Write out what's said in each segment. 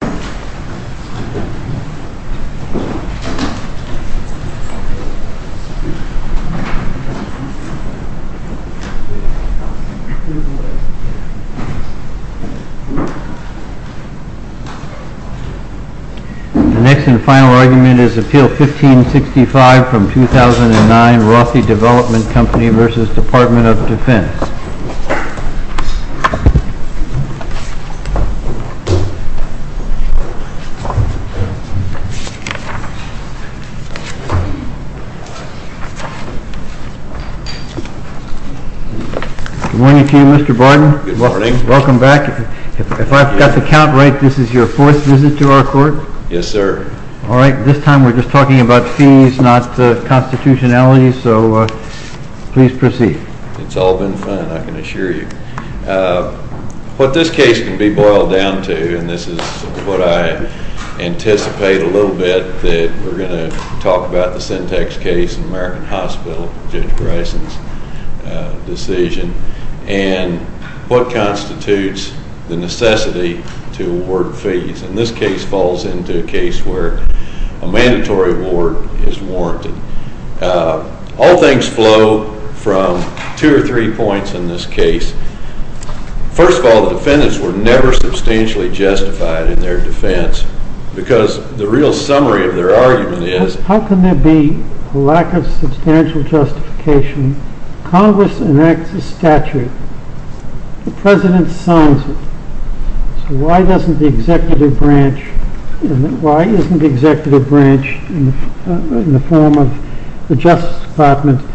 The next and final argument is Appeal 1565 from 2009, Rothy Development v. Department of Defense. Good morning to you, Mr. Barton, welcome back, if I've got the count right this is your fourth visit to our court? Yes, sir. Alright, this time we're just talking about fees, not constitutionality, so please proceed. It's all been fun, I can assure you. What this case can be boiled down to, and this is what I anticipate a little bit, that we're going to talk about the Syntex case in American Hospital, Judge Greisen's decision, and what constitutes the necessity to award fees, and this case falls into a case where a mandatory award is warranted. All things flow from two or three points in this case. First of all, the defendants were never substantially justified in their defense, because the real summary of their argument is, how can there be a lack of substantial justification, Congress enacts a statute, the President signs it, so why doesn't the executive branch, why isn't the Justice Department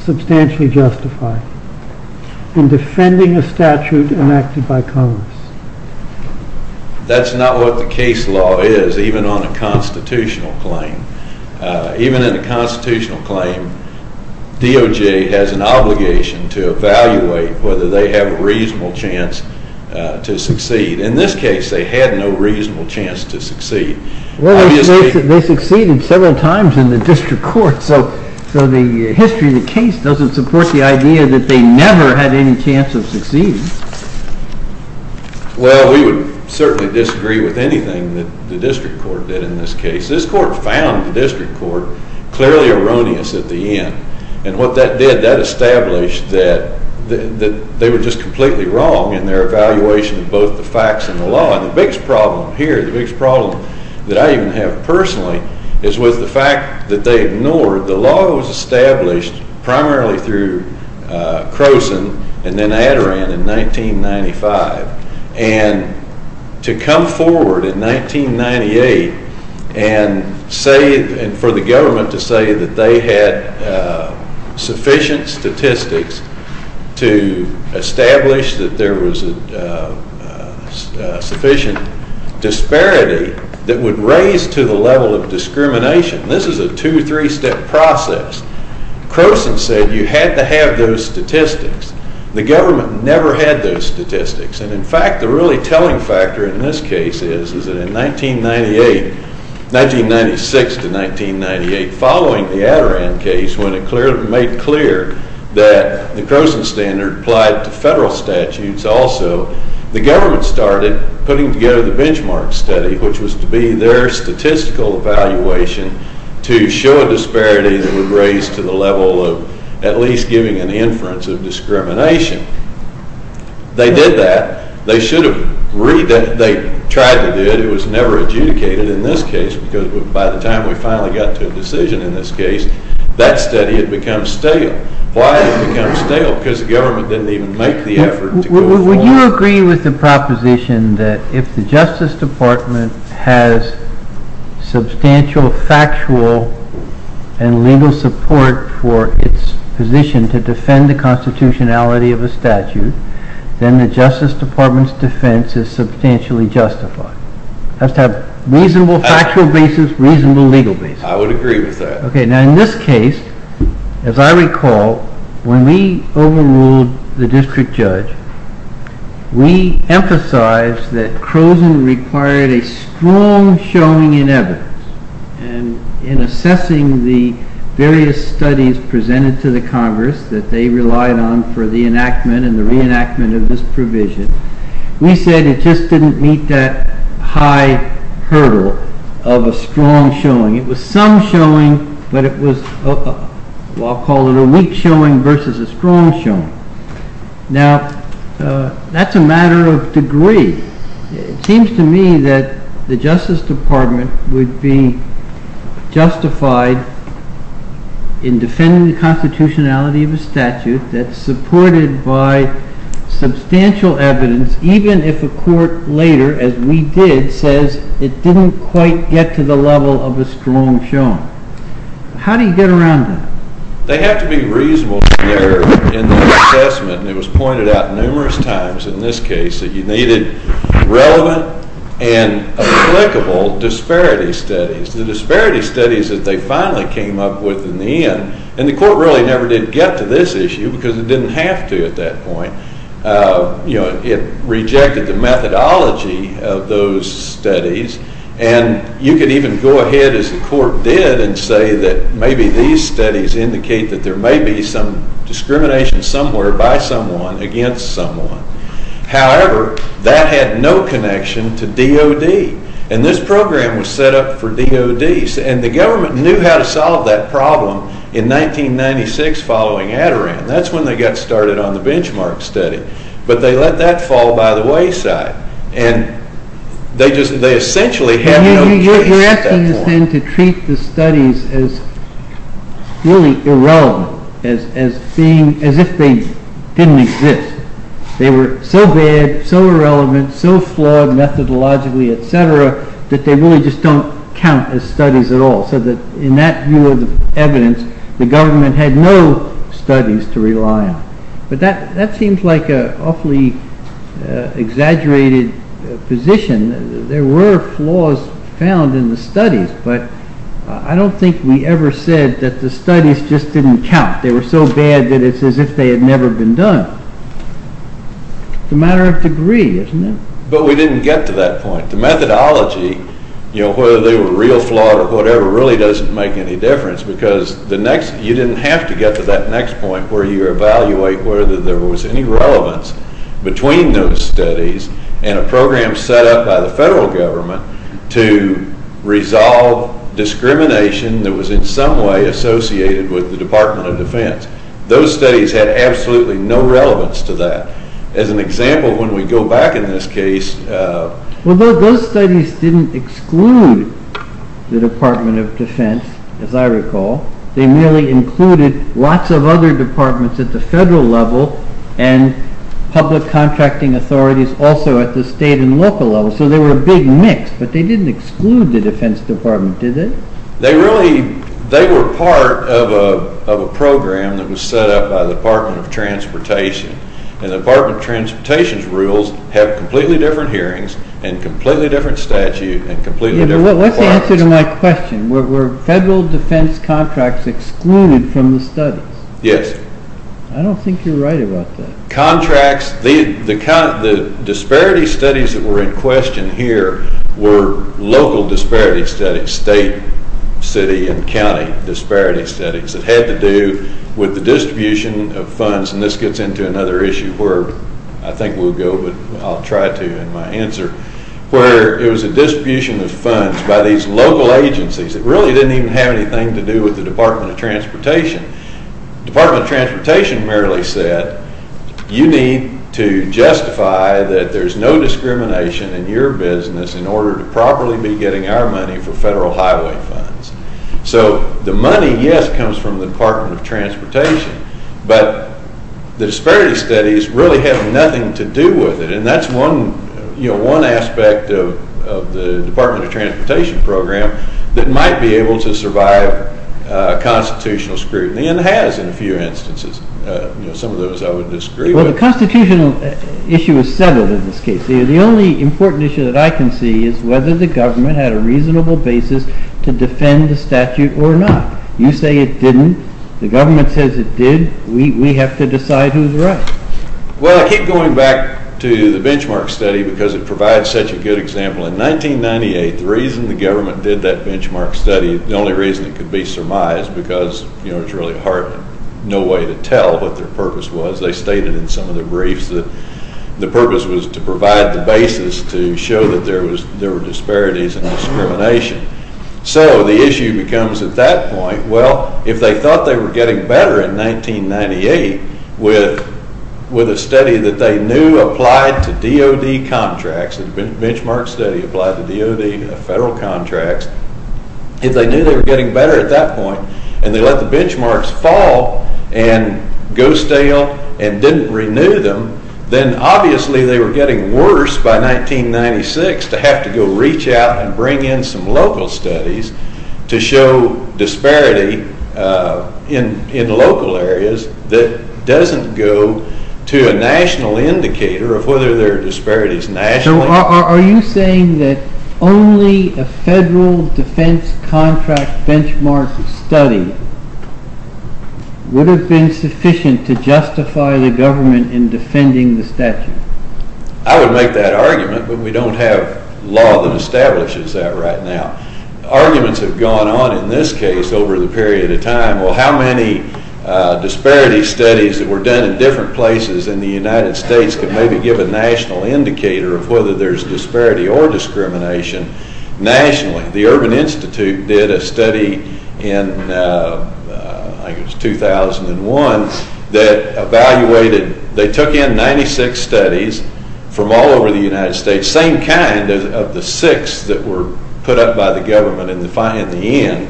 substantially justified in defending a statute enacted by Congress? That's not what the case law is, even on a constitutional claim. Even in a constitutional claim, DOJ has an obligation to evaluate whether they have a reasonable chance to succeed. In this case, they had no reasonable chance to succeed. Well, they succeeded several times in the district court, so the history of the case doesn't support the idea that they never had any chance of succeeding. Well, we would certainly disagree with anything that the district court did in this case. This court found the district court clearly erroneous at the end, and what that did, that established that they were just completely wrong in their evaluation of both the facts and the law. And the biggest problem here, the biggest problem that I even have personally, is with the fact that they ignored the law that was established primarily through Croson and then Adaran in 1995, and to come forward in 1998 and say, and for the government to say that they had sufficient statistics to establish that there was a sufficient disparity that would raise to the level of discrimination. This is a two-, three-step process. Croson said you had to have those statistics. The government never had those statistics, and in fact, the really telling factor in this case is that in 1998, 1996 to 1998, following the Adaran case, when it made clear that the Croson standard applied to federal statutes also, the government started putting together the benchmark study, which was to be their statistical evaluation to show a disparity that would raise to the level of at least giving an inference of discrimination. They did that. They should have redone it. They tried to do it. It was never adjudicated in this case, because by the time we finally got to a decision in this case, that study had become stale. Why had it become stale? Because the government didn't even make the effort to go forward. Would you agree with the proposition that if the Justice Department has substantial factual and legal support for its position to defend the constitutionality of a statute, then the Justice Department's defense is substantially justified? It has to have reasonable factual basis, reasonable legal basis. I would agree with that. Okay. Now, in this case, as I recall, when we overruled the district judge, we emphasized that Croson required a strong showing in evidence, and in assessing the various studies presented to the Congress that they relied on for the enactment and the reenactment of this provision, we said it just didn't meet that high hurdle of a strong showing. It was some showing, but it was, I'll call it a weak showing versus a strong showing. Now, that's a matter of degree. It seems to me that the Justice Department would be justified in defending the constitutionality of a statute that's supported by substantial evidence, even if a court later, as we did, says it didn't quite get to the level of a strong showing. How do you get around that? They have to be reasonable in their assessment, and it was pointed out numerous times in this case that you needed relevant and applicable disparity studies. The disparity studies that they finally came up with in the end, and the court really never did get to this issue because it didn't have to at that point, it rejected the methodology of those studies, and you could even go ahead, as the court did, and say that maybe these studies indicate that there may be some discrimination somewhere by someone against someone. However, that had no connection to DOD, and this program was set up for DODs, and the government knew how to solve that problem in 1996 following Adirond. That's when they got started on the benchmark study, but they let that fall by the wayside, and they essentially had no case at that point. You're asking us then to treat the studies as really irrelevant, as if they didn't exist. They were so bad, so irrelevant, so flawed methodologically, etc., that they really just don't count as studies at all, so that in that view of the evidence, the government had no studies to rely on. That seems like an awfully exaggerated position. There were flaws found in the studies, but I don't think we ever said that the studies just didn't count. They were so bad that it's as if they had never been done. It's a matter of degree, isn't it? But we didn't get to that point. The methodology, whether they were real, flawed, or whatever, really doesn't make any difference, because you didn't have to get to that next point where you evaluate whether there was any relevance between those studies and a program set up by the federal government to resolve discrimination that was in some way associated with the Department of Defense. Those studies had absolutely no relevance to that. As an example, when we go back in this case... Well, those studies didn't exclude the Department of Defense, as I recall. They merely included lots of other departments at the federal level and public contracting authorities also at the state and local level, so they were a big mix. But they didn't exclude the Defense Department, did they? They were part of a program that was set up by the Department of Transportation, and the Department of Transportation's rules have completely different hearings and completely different statute and completely different requirements. What's the answer to my question? Were federal defense contracts excluded from the studies? Yes. I don't think you're right about that. The disparity studies that were in question here were local disparity studies, state, city and county disparity studies that had to do with the distribution of funds, and this gets into another issue where I think we'll go, but I'll try to in my answer, where it was a distribution of funds by these local agencies that really didn't even have anything to do with the Department of Transportation. The Department of Transportation merely said, you need to justify that there's no discrimination in your business in order to properly be getting our money for federal highway funds. So the money, yes, comes from the Department of Transportation, but the disparity studies really have nothing to do with it, and that's one aspect of the Department of Transportation program that might be able to survive constitutional scrutiny, and has in a few instances. Some of those I would disagree with. Well, the constitutional issue is settled in this case. The only important issue that I can see is whether the government had a reasonable basis to defend the statute or not. You say it didn't. The government says it did. We have to decide who's right. Well, I keep going back to the benchmark study because it provides such a good example. In 1998, the reason the government did that benchmark study, the only reason it could be surmised, because it was really hard, no way to tell what their purpose was, they stated in some of the briefs that the purpose was to provide the basis to show that there were disparities and discrimination. So the issue becomes at that point, well, if they thought they were getting better in the federal contracts, if they knew they were getting better at that point and they let the benchmarks fall and go stale and didn't renew them, then obviously they were getting worse by 1996 to have to go reach out and bring in some local studies to show disparity in local areas that doesn't go to a national indicator of whether there are disparities nationally. So are you saying that only a federal defense contract benchmark study would have been sufficient to justify the government in defending the statute? I would make that argument, but we don't have law that establishes that right now. Arguments have gone on in this case over the period of time, well, how many disparity studies that were done in different places in the United States could maybe give a national indicator of whether there's disparity or discrimination nationally? The Urban Institute did a study in, I think it was 2001, that evaluated, they took in 96 studies from all over the United States, same kind of the six that were put up by the government in the end,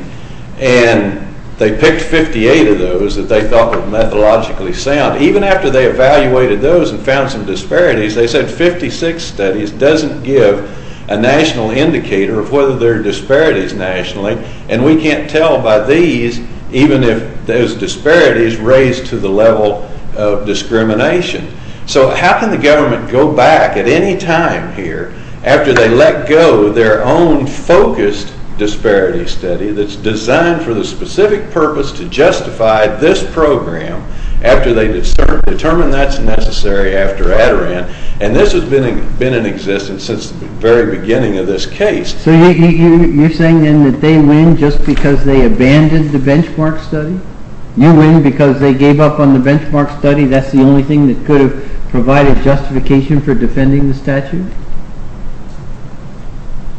and they picked 58 of those that they thought were methodologically sound. Even after they evaluated those and found some disparities, they said 56 studies doesn't give a national indicator of whether there are disparities nationally, and we can't tell by these even if there's disparities raised to the level of discrimination. So how can the government go back at any time here after they let go of their own focused disparity study that's designed for the specific purpose to justify this program after they determine that's necessary after Adirondack, and this has been in existence since the very beginning of this case. So you're saying then that they win just because they abandoned the benchmark study? You win because they gave up on the benchmark study, that's the only thing that could have provided justification for defending the statute?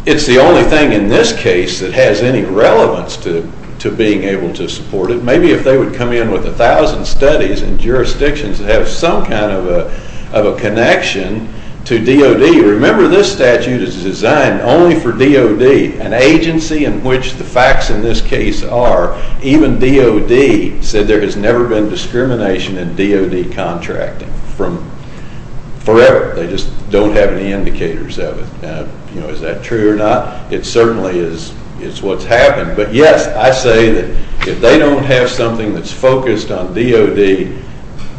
It's the only thing in this case that has any relevance to being able to support it. Maybe if they would come in with a thousand studies in jurisdictions that have some kind of a connection to DOD. Remember this statute is designed only for DOD, an agency in which the facts in this case are, even DOD said there has never been discrimination in DOD contracting from forever. They just don't have any indicators of it. Is that true or not? It certainly is what's happened, but yes, I say that if they don't have something that's focused on DOD,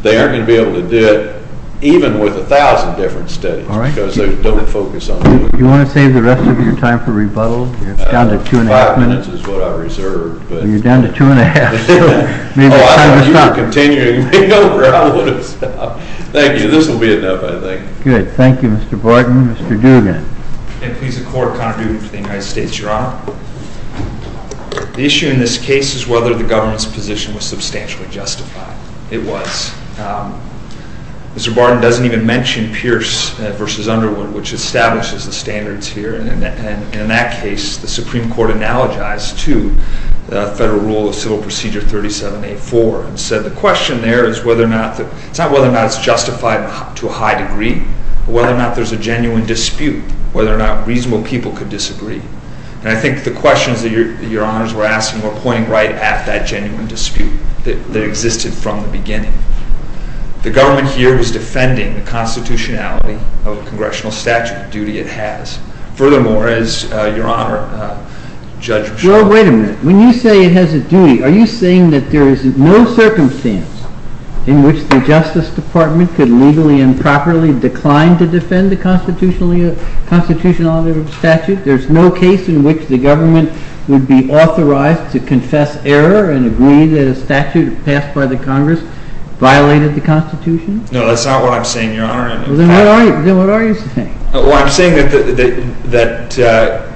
they aren't going to be able to do it even with a thousand different studies because they don't focus on DOD. You want to save the rest of your time for rebuttal? You're down to two and a half minutes. Five minutes is what I reserved. You're down to two and a half. Maybe it's time to stop. Oh, I thought you were continuing me over. I would have stopped. Thank you. This will be enough I think. Good. Thank you, Mr. Barton. Mr. Dugan. Please, the Court. Connor Dugan for the United States, Your Honor. The issue in this case is whether the government's position was substantially justified. It was. Mr. Barton doesn't even mention Pierce v. Underwood, which establishes the standards here, and in that case, the Supreme Court analogized to the Federal Rule of Civil Procedure 37A4 and said the question there is whether or not, it's not whether or not it's justified to a high degree, but whether or not there's a genuine dispute, whether or not reasonable people could disagree. And I think the questions that Your Honors were asking were pointing right at that genuine dispute that existed from the beginning. The government here was defending the constitutionality of the congressional statute, the duty it has. Furthermore, as Your Honor, Judge Mischel. Well, wait a minute. When you say it has a duty, are you saying that there is no circumstance in which the government, reasonably and properly, declined to defend the constitutionality of the statute? There's no case in which the government would be authorized to confess error and agree that a statute passed by the Congress violated the constitution? No, that's not what I'm saying, Your Honor. Then what are you saying? Well, I'm saying that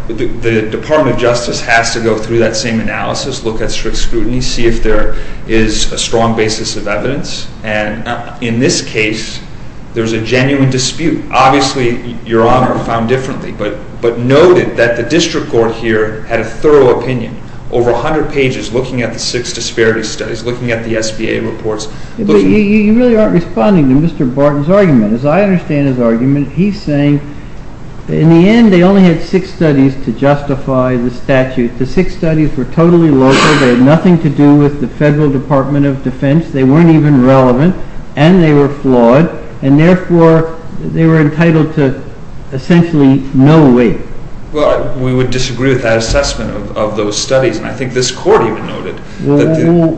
the Department of Justice has to go through that same analysis, look at strict scrutiny, see if there is a strong basis of evidence. And in this case, there's a genuine dispute. Obviously, Your Honor, found differently, but noted that the district court here had a thorough opinion, over 100 pages looking at the six disparity studies, looking at the SBA reports. But you really aren't responding to Mr. Barton's argument. As I understand his argument, he's saying, in the end, they only had six studies to justify the statute. The six studies were totally local, they had nothing to do with the Federal Department of Defense. They weren't even relevant and they were flawed, and therefore, they were entitled to essentially no weight. Well, we would disagree with that assessment of those studies, and I think this court even noted. Well,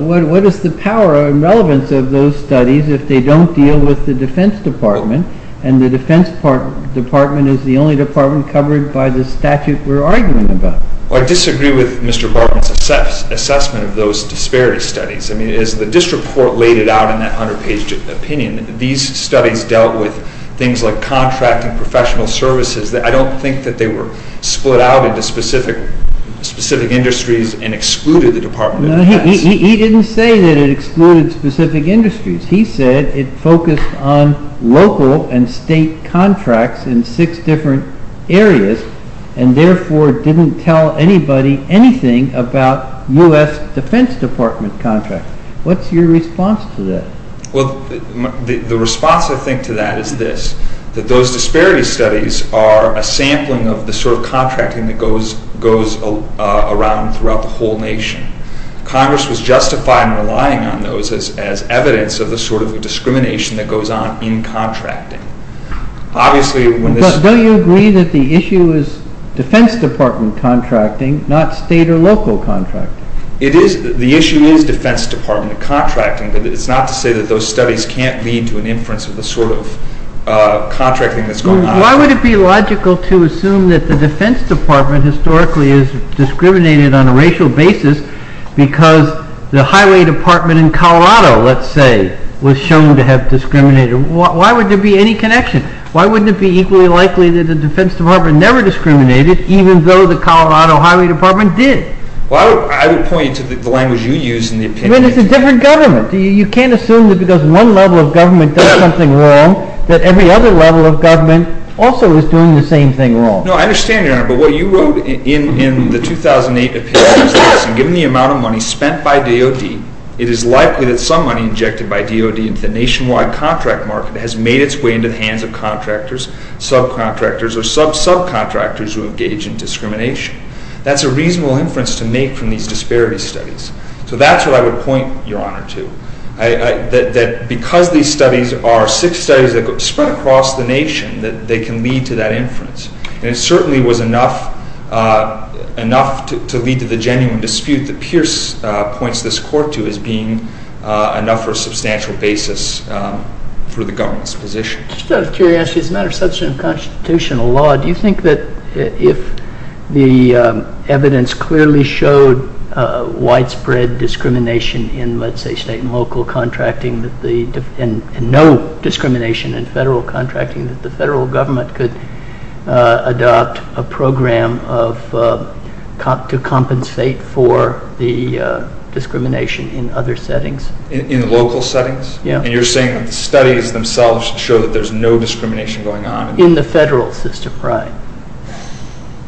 what is the power and relevance of those studies if they don't deal with the Defense Department, and the Defense Department is the only department covered by the statute we're arguing about? Well, I disagree with Mr. Barton's assessment of those disparity studies. I mean, as the district court laid it out in that 100-page opinion, these studies dealt with things like contracting professional services. I don't think that they were split out into specific industries and excluded the Department of Defense. He didn't say that it excluded specific industries. He said it focused on local and state contracts in six different areas, and therefore, didn't tell anybody anything about U.S. Defense Department contracts. What's your response to that? Well, the response, I think, to that is this, that those disparity studies are a sampling of the sort of contracting that goes around throughout the whole nation. Congress was justified in relying on those as evidence of the sort of discrimination that goes on in contracting. But don't you agree that the issue is Defense Department contracting, not state or local contracting? It is. The issue is Defense Department contracting, but it's not to say that those studies can't lead to an inference of the sort of contracting that's going on. Why would it be logical to assume that the Defense Department historically is discriminated on a racial basis because the highway department in Colorado, let's say, was shown to have discriminated? Why would there be any connection? Why wouldn't it be equally likely that the Defense Department never discriminated, even though the Colorado Highway Department did? Well, I would point you to the language you use in the opinion. I mean, it's a different government. You can't assume that because one level of government does something wrong, that every other level of government also is doing the same thing wrong. No, I understand, Your Honor. But what you wrote in the 2008 opinion is this, and given the amount of money spent by DOD, it is likely that some money injected by DOD into the nationwide contract market has made its way into the hands of contractors, subcontractors, or sub-subcontractors who engage in discrimination. That's a reasonable inference to make from these disparity studies. So that's what I would point, Your Honor, to, that because these studies are six studies that spread across the nation, that they can lead to that inference, and it certainly was the genuine dispute that Pierce points this court to as being enough for a substantial basis for the government's position. Just out of curiosity, as a matter of substantive constitutional law, do you think that if the evidence clearly showed widespread discrimination in, let's say, state and local contracting, and no discrimination in federal contracting, that the federal government could adopt a way to compensate for the discrimination in other settings? In local settings? Yeah. And you're saying that the studies themselves show that there's no discrimination going on? In the federal system, right.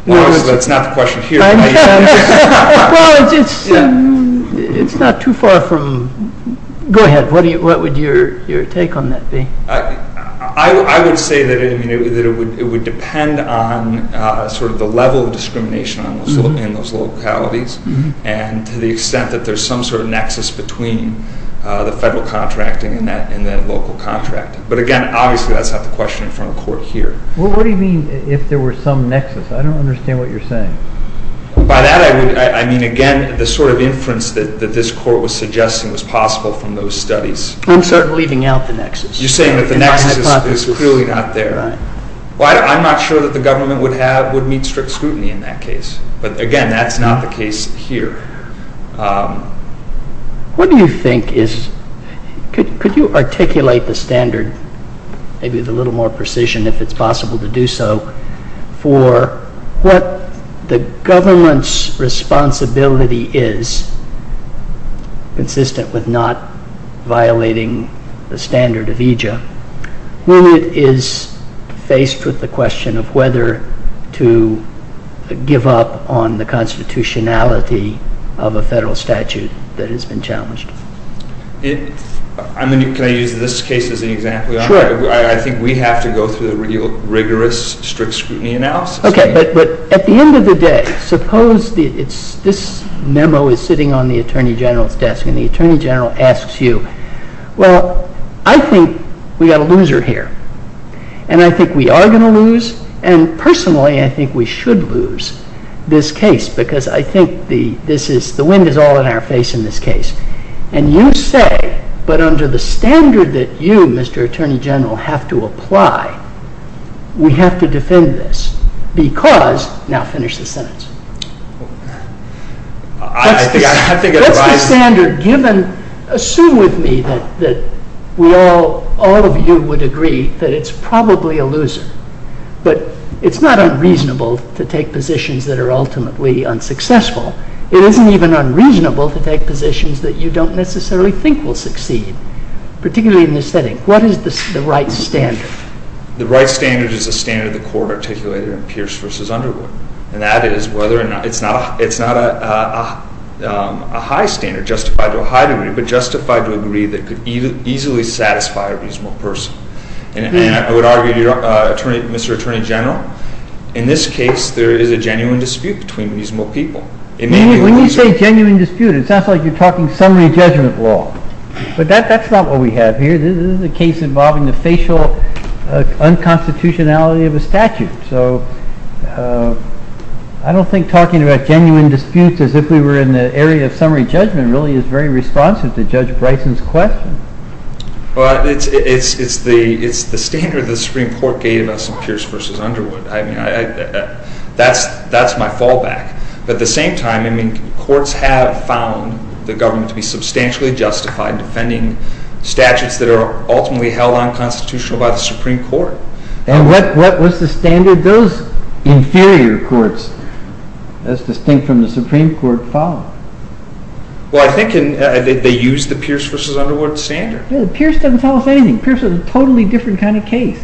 Well, that's not the question here. Well, it's not too far from, go ahead, what would your take on that be? I would say that it would depend on sort of the level of discrimination in those localities, and to the extent that there's some sort of nexus between the federal contracting and the local contracting. But again, obviously, that's not the question in front of court here. Well, what do you mean if there were some nexus? I don't understand what you're saying. By that, I mean, again, the sort of inference that this court was suggesting was possible from those studies. I'm leaving out the nexus. You're saying that the nexus is clearly not there. Right. Well, I'm not sure that the government would have, would meet strict scrutiny in that case. But again, that's not the case here. What do you think is, could you articulate the standard, maybe with a little more precision if it's possible to do so, for what the government's responsibility is, consistent with not violating the standard of EJA, when it is faced with the question of whether to give up on the constitutionality of a federal statute that has been challenged? Can I use this case as an example? Sure. I think we have to go through the real rigorous strict scrutiny analysis. Okay. But at the end of the day, suppose this memo is sitting on the Attorney General's desk, and the Attorney General asks you, well, I think we've got a loser here. And I think we are going to lose, and personally, I think we should lose this case, because I think the wind is all in our face in this case. And you say, but under the standard that you, Mr. Attorney General, have to apply, we have to defend this, because, now finish the sentence. What's the standard given, assume with me that we all, all of you would agree that it's probably a loser, but it's not unreasonable to take positions that are ultimately unsuccessful. It isn't even unreasonable to take positions that you don't necessarily think will succeed, particularly in this setting. What is the right standard? The right standard is the standard the Court articulated in Pierce v. Underwood, and that is whether or not, it's not a high standard justified to a high degree, but justified to a degree that could easily satisfy a reasonable person. And I would argue, Mr. Attorney General, in this case, there is a genuine dispute between reasonable people. It may be a loser. When you say genuine dispute, it sounds like you're talking summary judgment law, but that's not what we have here. This is a case involving the facial unconstitutionality of a statute. So, I don't think talking about genuine disputes as if we were in the area of summary judgment really is very responsive to Judge Bryson's question. Well, it's the standard that the Supreme Court gave us in Pierce v. Underwood. That's my fallback. But at the same time, I mean, courts have found the government to be substantially justified defending statutes that are ultimately held unconstitutional by the Supreme Court. And what's the standard those inferior courts, that's distinct from the Supreme Court, follow? Well, I think they use the Pierce v. Underwood standard. Pierce doesn't tell us anything. Pierce is a totally different kind of case.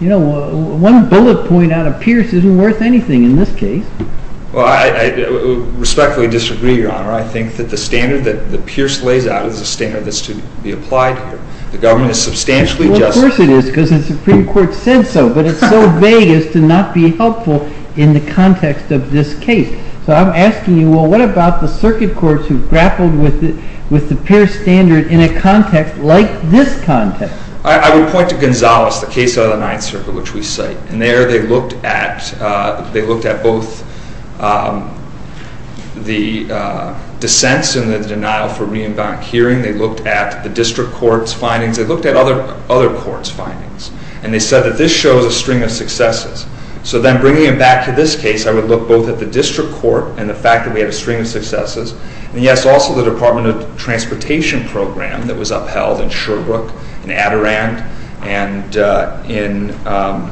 You know, one bullet point out of Pierce isn't worth anything in this case. Well, I respectfully disagree, Your Honor. I think that the standard that Pierce lays out is a standard that's to be applied here. The government is substantially justified. Well, of course it is, because the Supreme Court said so. But it's so vague as to not be helpful in the context of this case. So, I'm asking you, well, what about the circuit courts who grappled with the Pierce standard in a context like this context? I would point to Gonzales, the case out of the Ninth Circuit, which we cite. And there they looked at both the dissents and the denial for reimbark hearing. They looked at the district court's findings. They looked at other courts' findings. And they said that this shows a string of successes. So then, bringing it back to this case, I would look both at the district court and the fact that we had a string of successes. And, yes, also the Department of Transportation program that was upheld in Sherbrooke, in Adirond, and in, I'm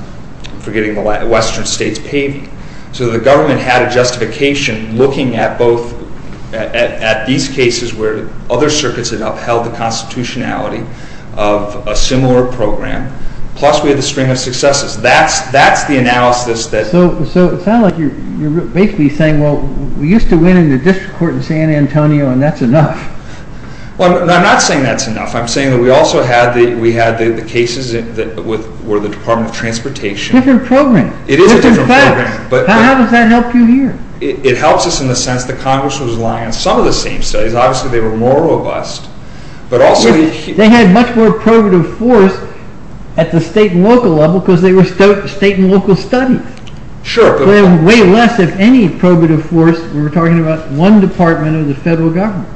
forgetting the last, Western States, Pavey. So the government had a justification looking at both, at these cases where other circuits had upheld the constitutionality of a similar program. Plus, we had the string of successes. That's the analysis. So it sounds like you're basically saying, well, we used to win in the district court in San Antonio and that's enough. Well, I'm not saying that's enough. I'm saying that we also had the cases that were the Department of Transportation. Different program. It is a different program. How does that help you here? It helps us in the sense that Congress was relying on some of the same studies. Obviously, they were more robust. They had much more probative force at the state and local level because they were state and local studies. Sure. Way less of any probative force when we're talking about one department of the federal government.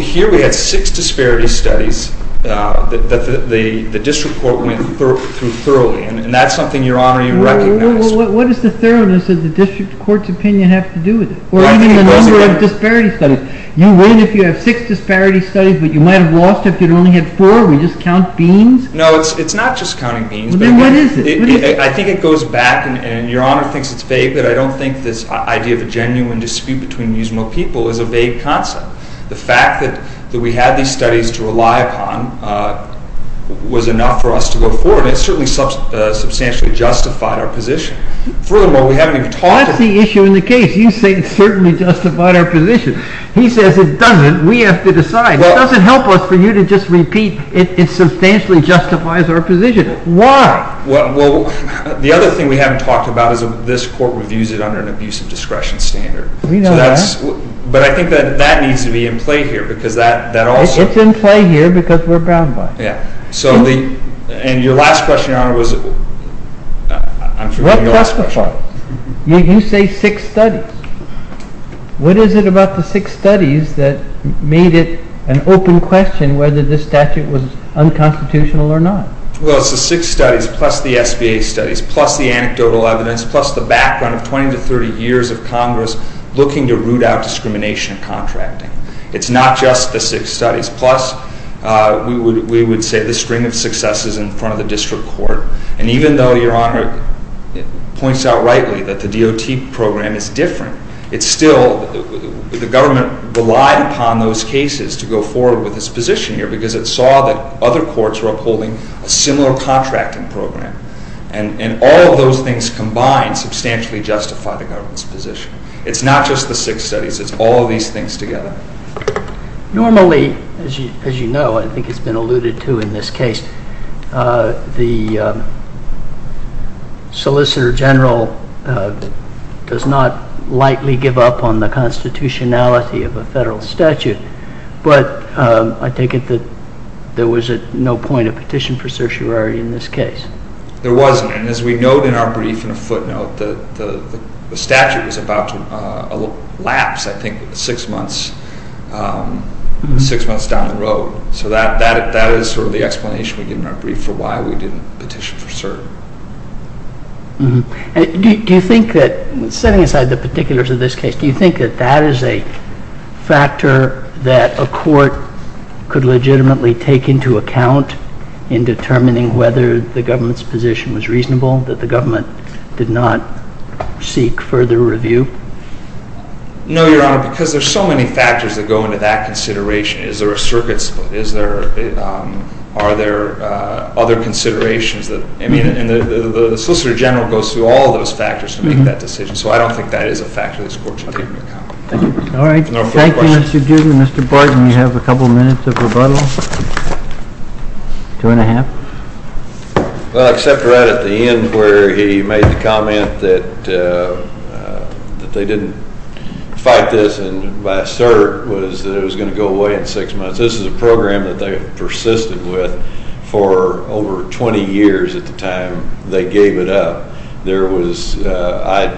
Here we had six disparity studies that the district court went through thoroughly. And that's something, Your Honor, you recognized. What does the thoroughness of the district court's opinion have to do with it? Or even the number of disparity studies? You win if you have six disparity studies, but you might have lost if you'd only had four? We just count beans? No, it's not just counting beans. Then what is it? I think it goes back, and Your Honor thinks it's vague, but I don't think this idea of a genuine dispute between Muslim people is a vague concept. The fact that we had these studies to rely upon was enough for us to go forward. It certainly substantially justified our position. Furthermore, we haven't even talked about it. That's the issue in the case. You say it certainly justified our position. He says it doesn't. We have to decide. It doesn't help us for you to just repeat it substantially justifies our position. Why? Well, the other thing we haven't talked about is this court reviews it under an abusive discretion standard. We know that. But I think that that needs to be in play here because that also— It's in play here because we're bound by it. Yeah. And your last question, Your Honor, was— You say six studies. What is it about the six studies that made it an open question whether this statute was unconstitutional or not? Well, it's the six studies plus the SBA studies plus the anecdotal evidence plus the background of 20 to 30 years of Congress looking to root out discrimination in contracting. It's not just the six studies. Plus, we would say the string of successes in front of the district court. And even though Your Honor points out rightly that the DOT program is different, it's still—the government relied upon those cases to go forward with its position here because it saw that other courts were upholding a similar contracting program. And all of those things combined substantially justify the government's position. It's not just the six studies. It's all of these things together. Normally, as you know, I think it's been alluded to in this case, the solicitor general does not lightly give up on the constitutionality of a federal statute. But I take it that there was at no point a petition for certiorari in this case. There wasn't. And as we note in our brief in a footnote, the statute was about to lapse, I think, six months down the road. So that is sort of the explanation we get in our brief for why we didn't petition for cert. Do you think that, setting aside the particulars of this case, do you think that that is a factor that a court could legitimately take into account in determining whether the government's position was reasonable, that the government did not seek further review? No, Your Honor, because there's so many factors that go into that consideration. Is there a circuit split? Are there other considerations? I mean, the solicitor general goes through all those factors to make that decision. So I don't think that is a factor this court should take into account. All right. Thank you, Mr. Duggan. Mr. Barton, you have a couple minutes of rebuttal. Two and a half. Well, except right at the end where he made the comment that they didn't fight this and by cert was that it was going to go away in six months. This is a program that they persisted with for over 20 years at the time they gave it up. There was, I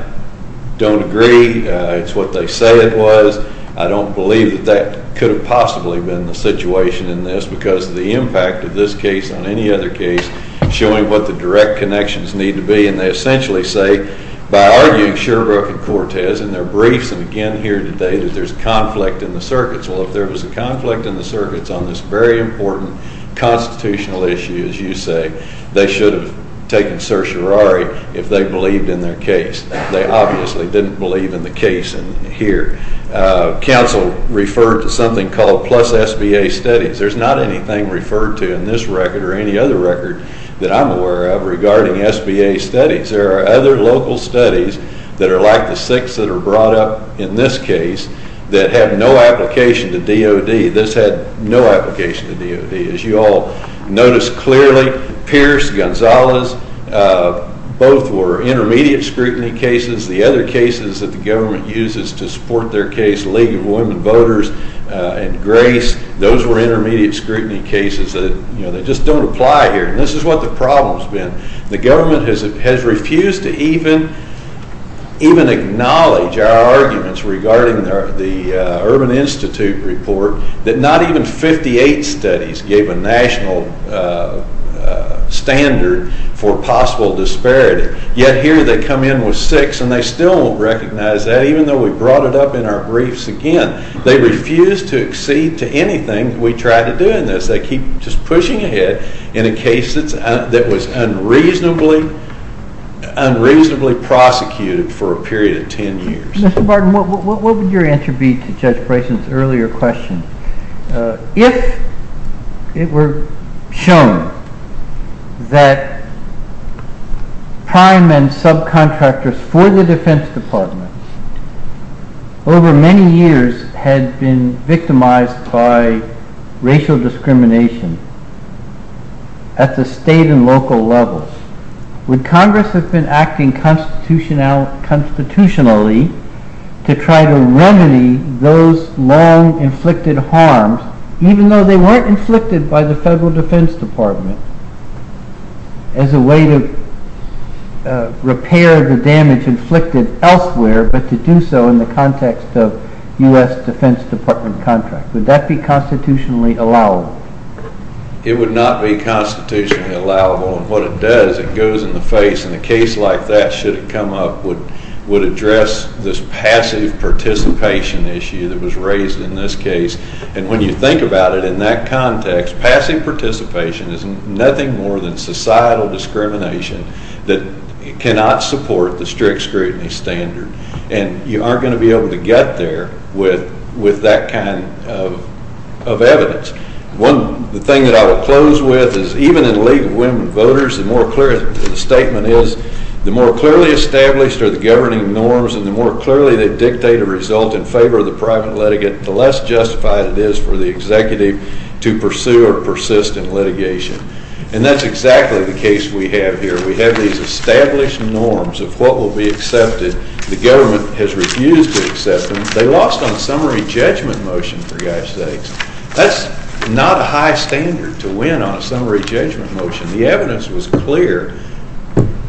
don't agree. It's what they say it was. I don't believe that that could have possibly been the situation in this because of the impact of this case on any other case, showing what the direct connections need to be. And they essentially say, by arguing Sherbrooke and Cortez in their briefs, again here today, that there's conflict in the circuits. Well, if there was a conflict in the circuits on this very important constitutional issue, as you say, they should have taken certiorari if they believed in their case. They obviously didn't believe in the case here. Counsel referred to something called plus SBA studies. There's not anything referred to in this record or any other record that I'm aware of regarding SBA studies. There are other local studies that are like the six that are brought up in this case that have no application to DOD. This had no application to DOD. As you all noticed clearly, Pierce, Gonzalez, both were intermediate scrutiny cases. The other cases that the government uses to support their case, League of Women Voters and Grace, those were intermediate scrutiny cases that just don't apply here. And this is what the problem's been. The government has refused to even acknowledge our arguments regarding the Urban Institute report that not even 58 studies gave a national standard for possible disparity. Yet here they come in with six, and they still don't recognize that, even though we brought it up in our briefs again. They refuse to accede to anything we try to do in this. They keep just pushing ahead in a case that was unreasonably prosecuted for a period of 10 years. Mr. Barton, what would your answer be to Judge Bryson's earlier question? If it were shown that prime and subcontractors for the Defense Department over many years had been victimized by racial discrimination at the state and local levels, would Congress have been acting constitutionally to try to remedy those long-inflicted harms, even though they weren't inflicted by the Federal Defense Department, as a way to repair the damage inflicted elsewhere, but to do so in the context of U.S. Defense Department contracts? Would that be constitutionally allowable? It would not be constitutionally allowable. And what it does, it goes in the face. And a case like that, should it come up, would address this passive participation issue that was raised in this case. And when you think about it in that context, passive participation is nothing more than societal discrimination that cannot support the strict scrutiny standard. And you aren't going to be able to get there with that kind of evidence. The thing that I will close with is even in the League of Women Voters, the more clear the statement is, the more clearly established are the governing norms and the more clearly they dictate a result in favor of the private litigant, the less justified it is for the executive to pursue or persist in litigation. And that's exactly the case we have here. We have these established norms of what will be accepted. The government has refused to accept them. They lost on a summary judgment motion, for God's sakes. That's not a high standard to win on a summary judgment motion. The evidence was clear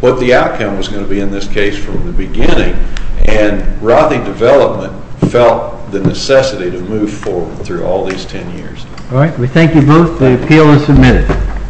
what the outcome was going to be in this case from the beginning. And Rothy Development felt the necessity to move forward through all these ten years. All right. We thank you both. The appeal is submitted.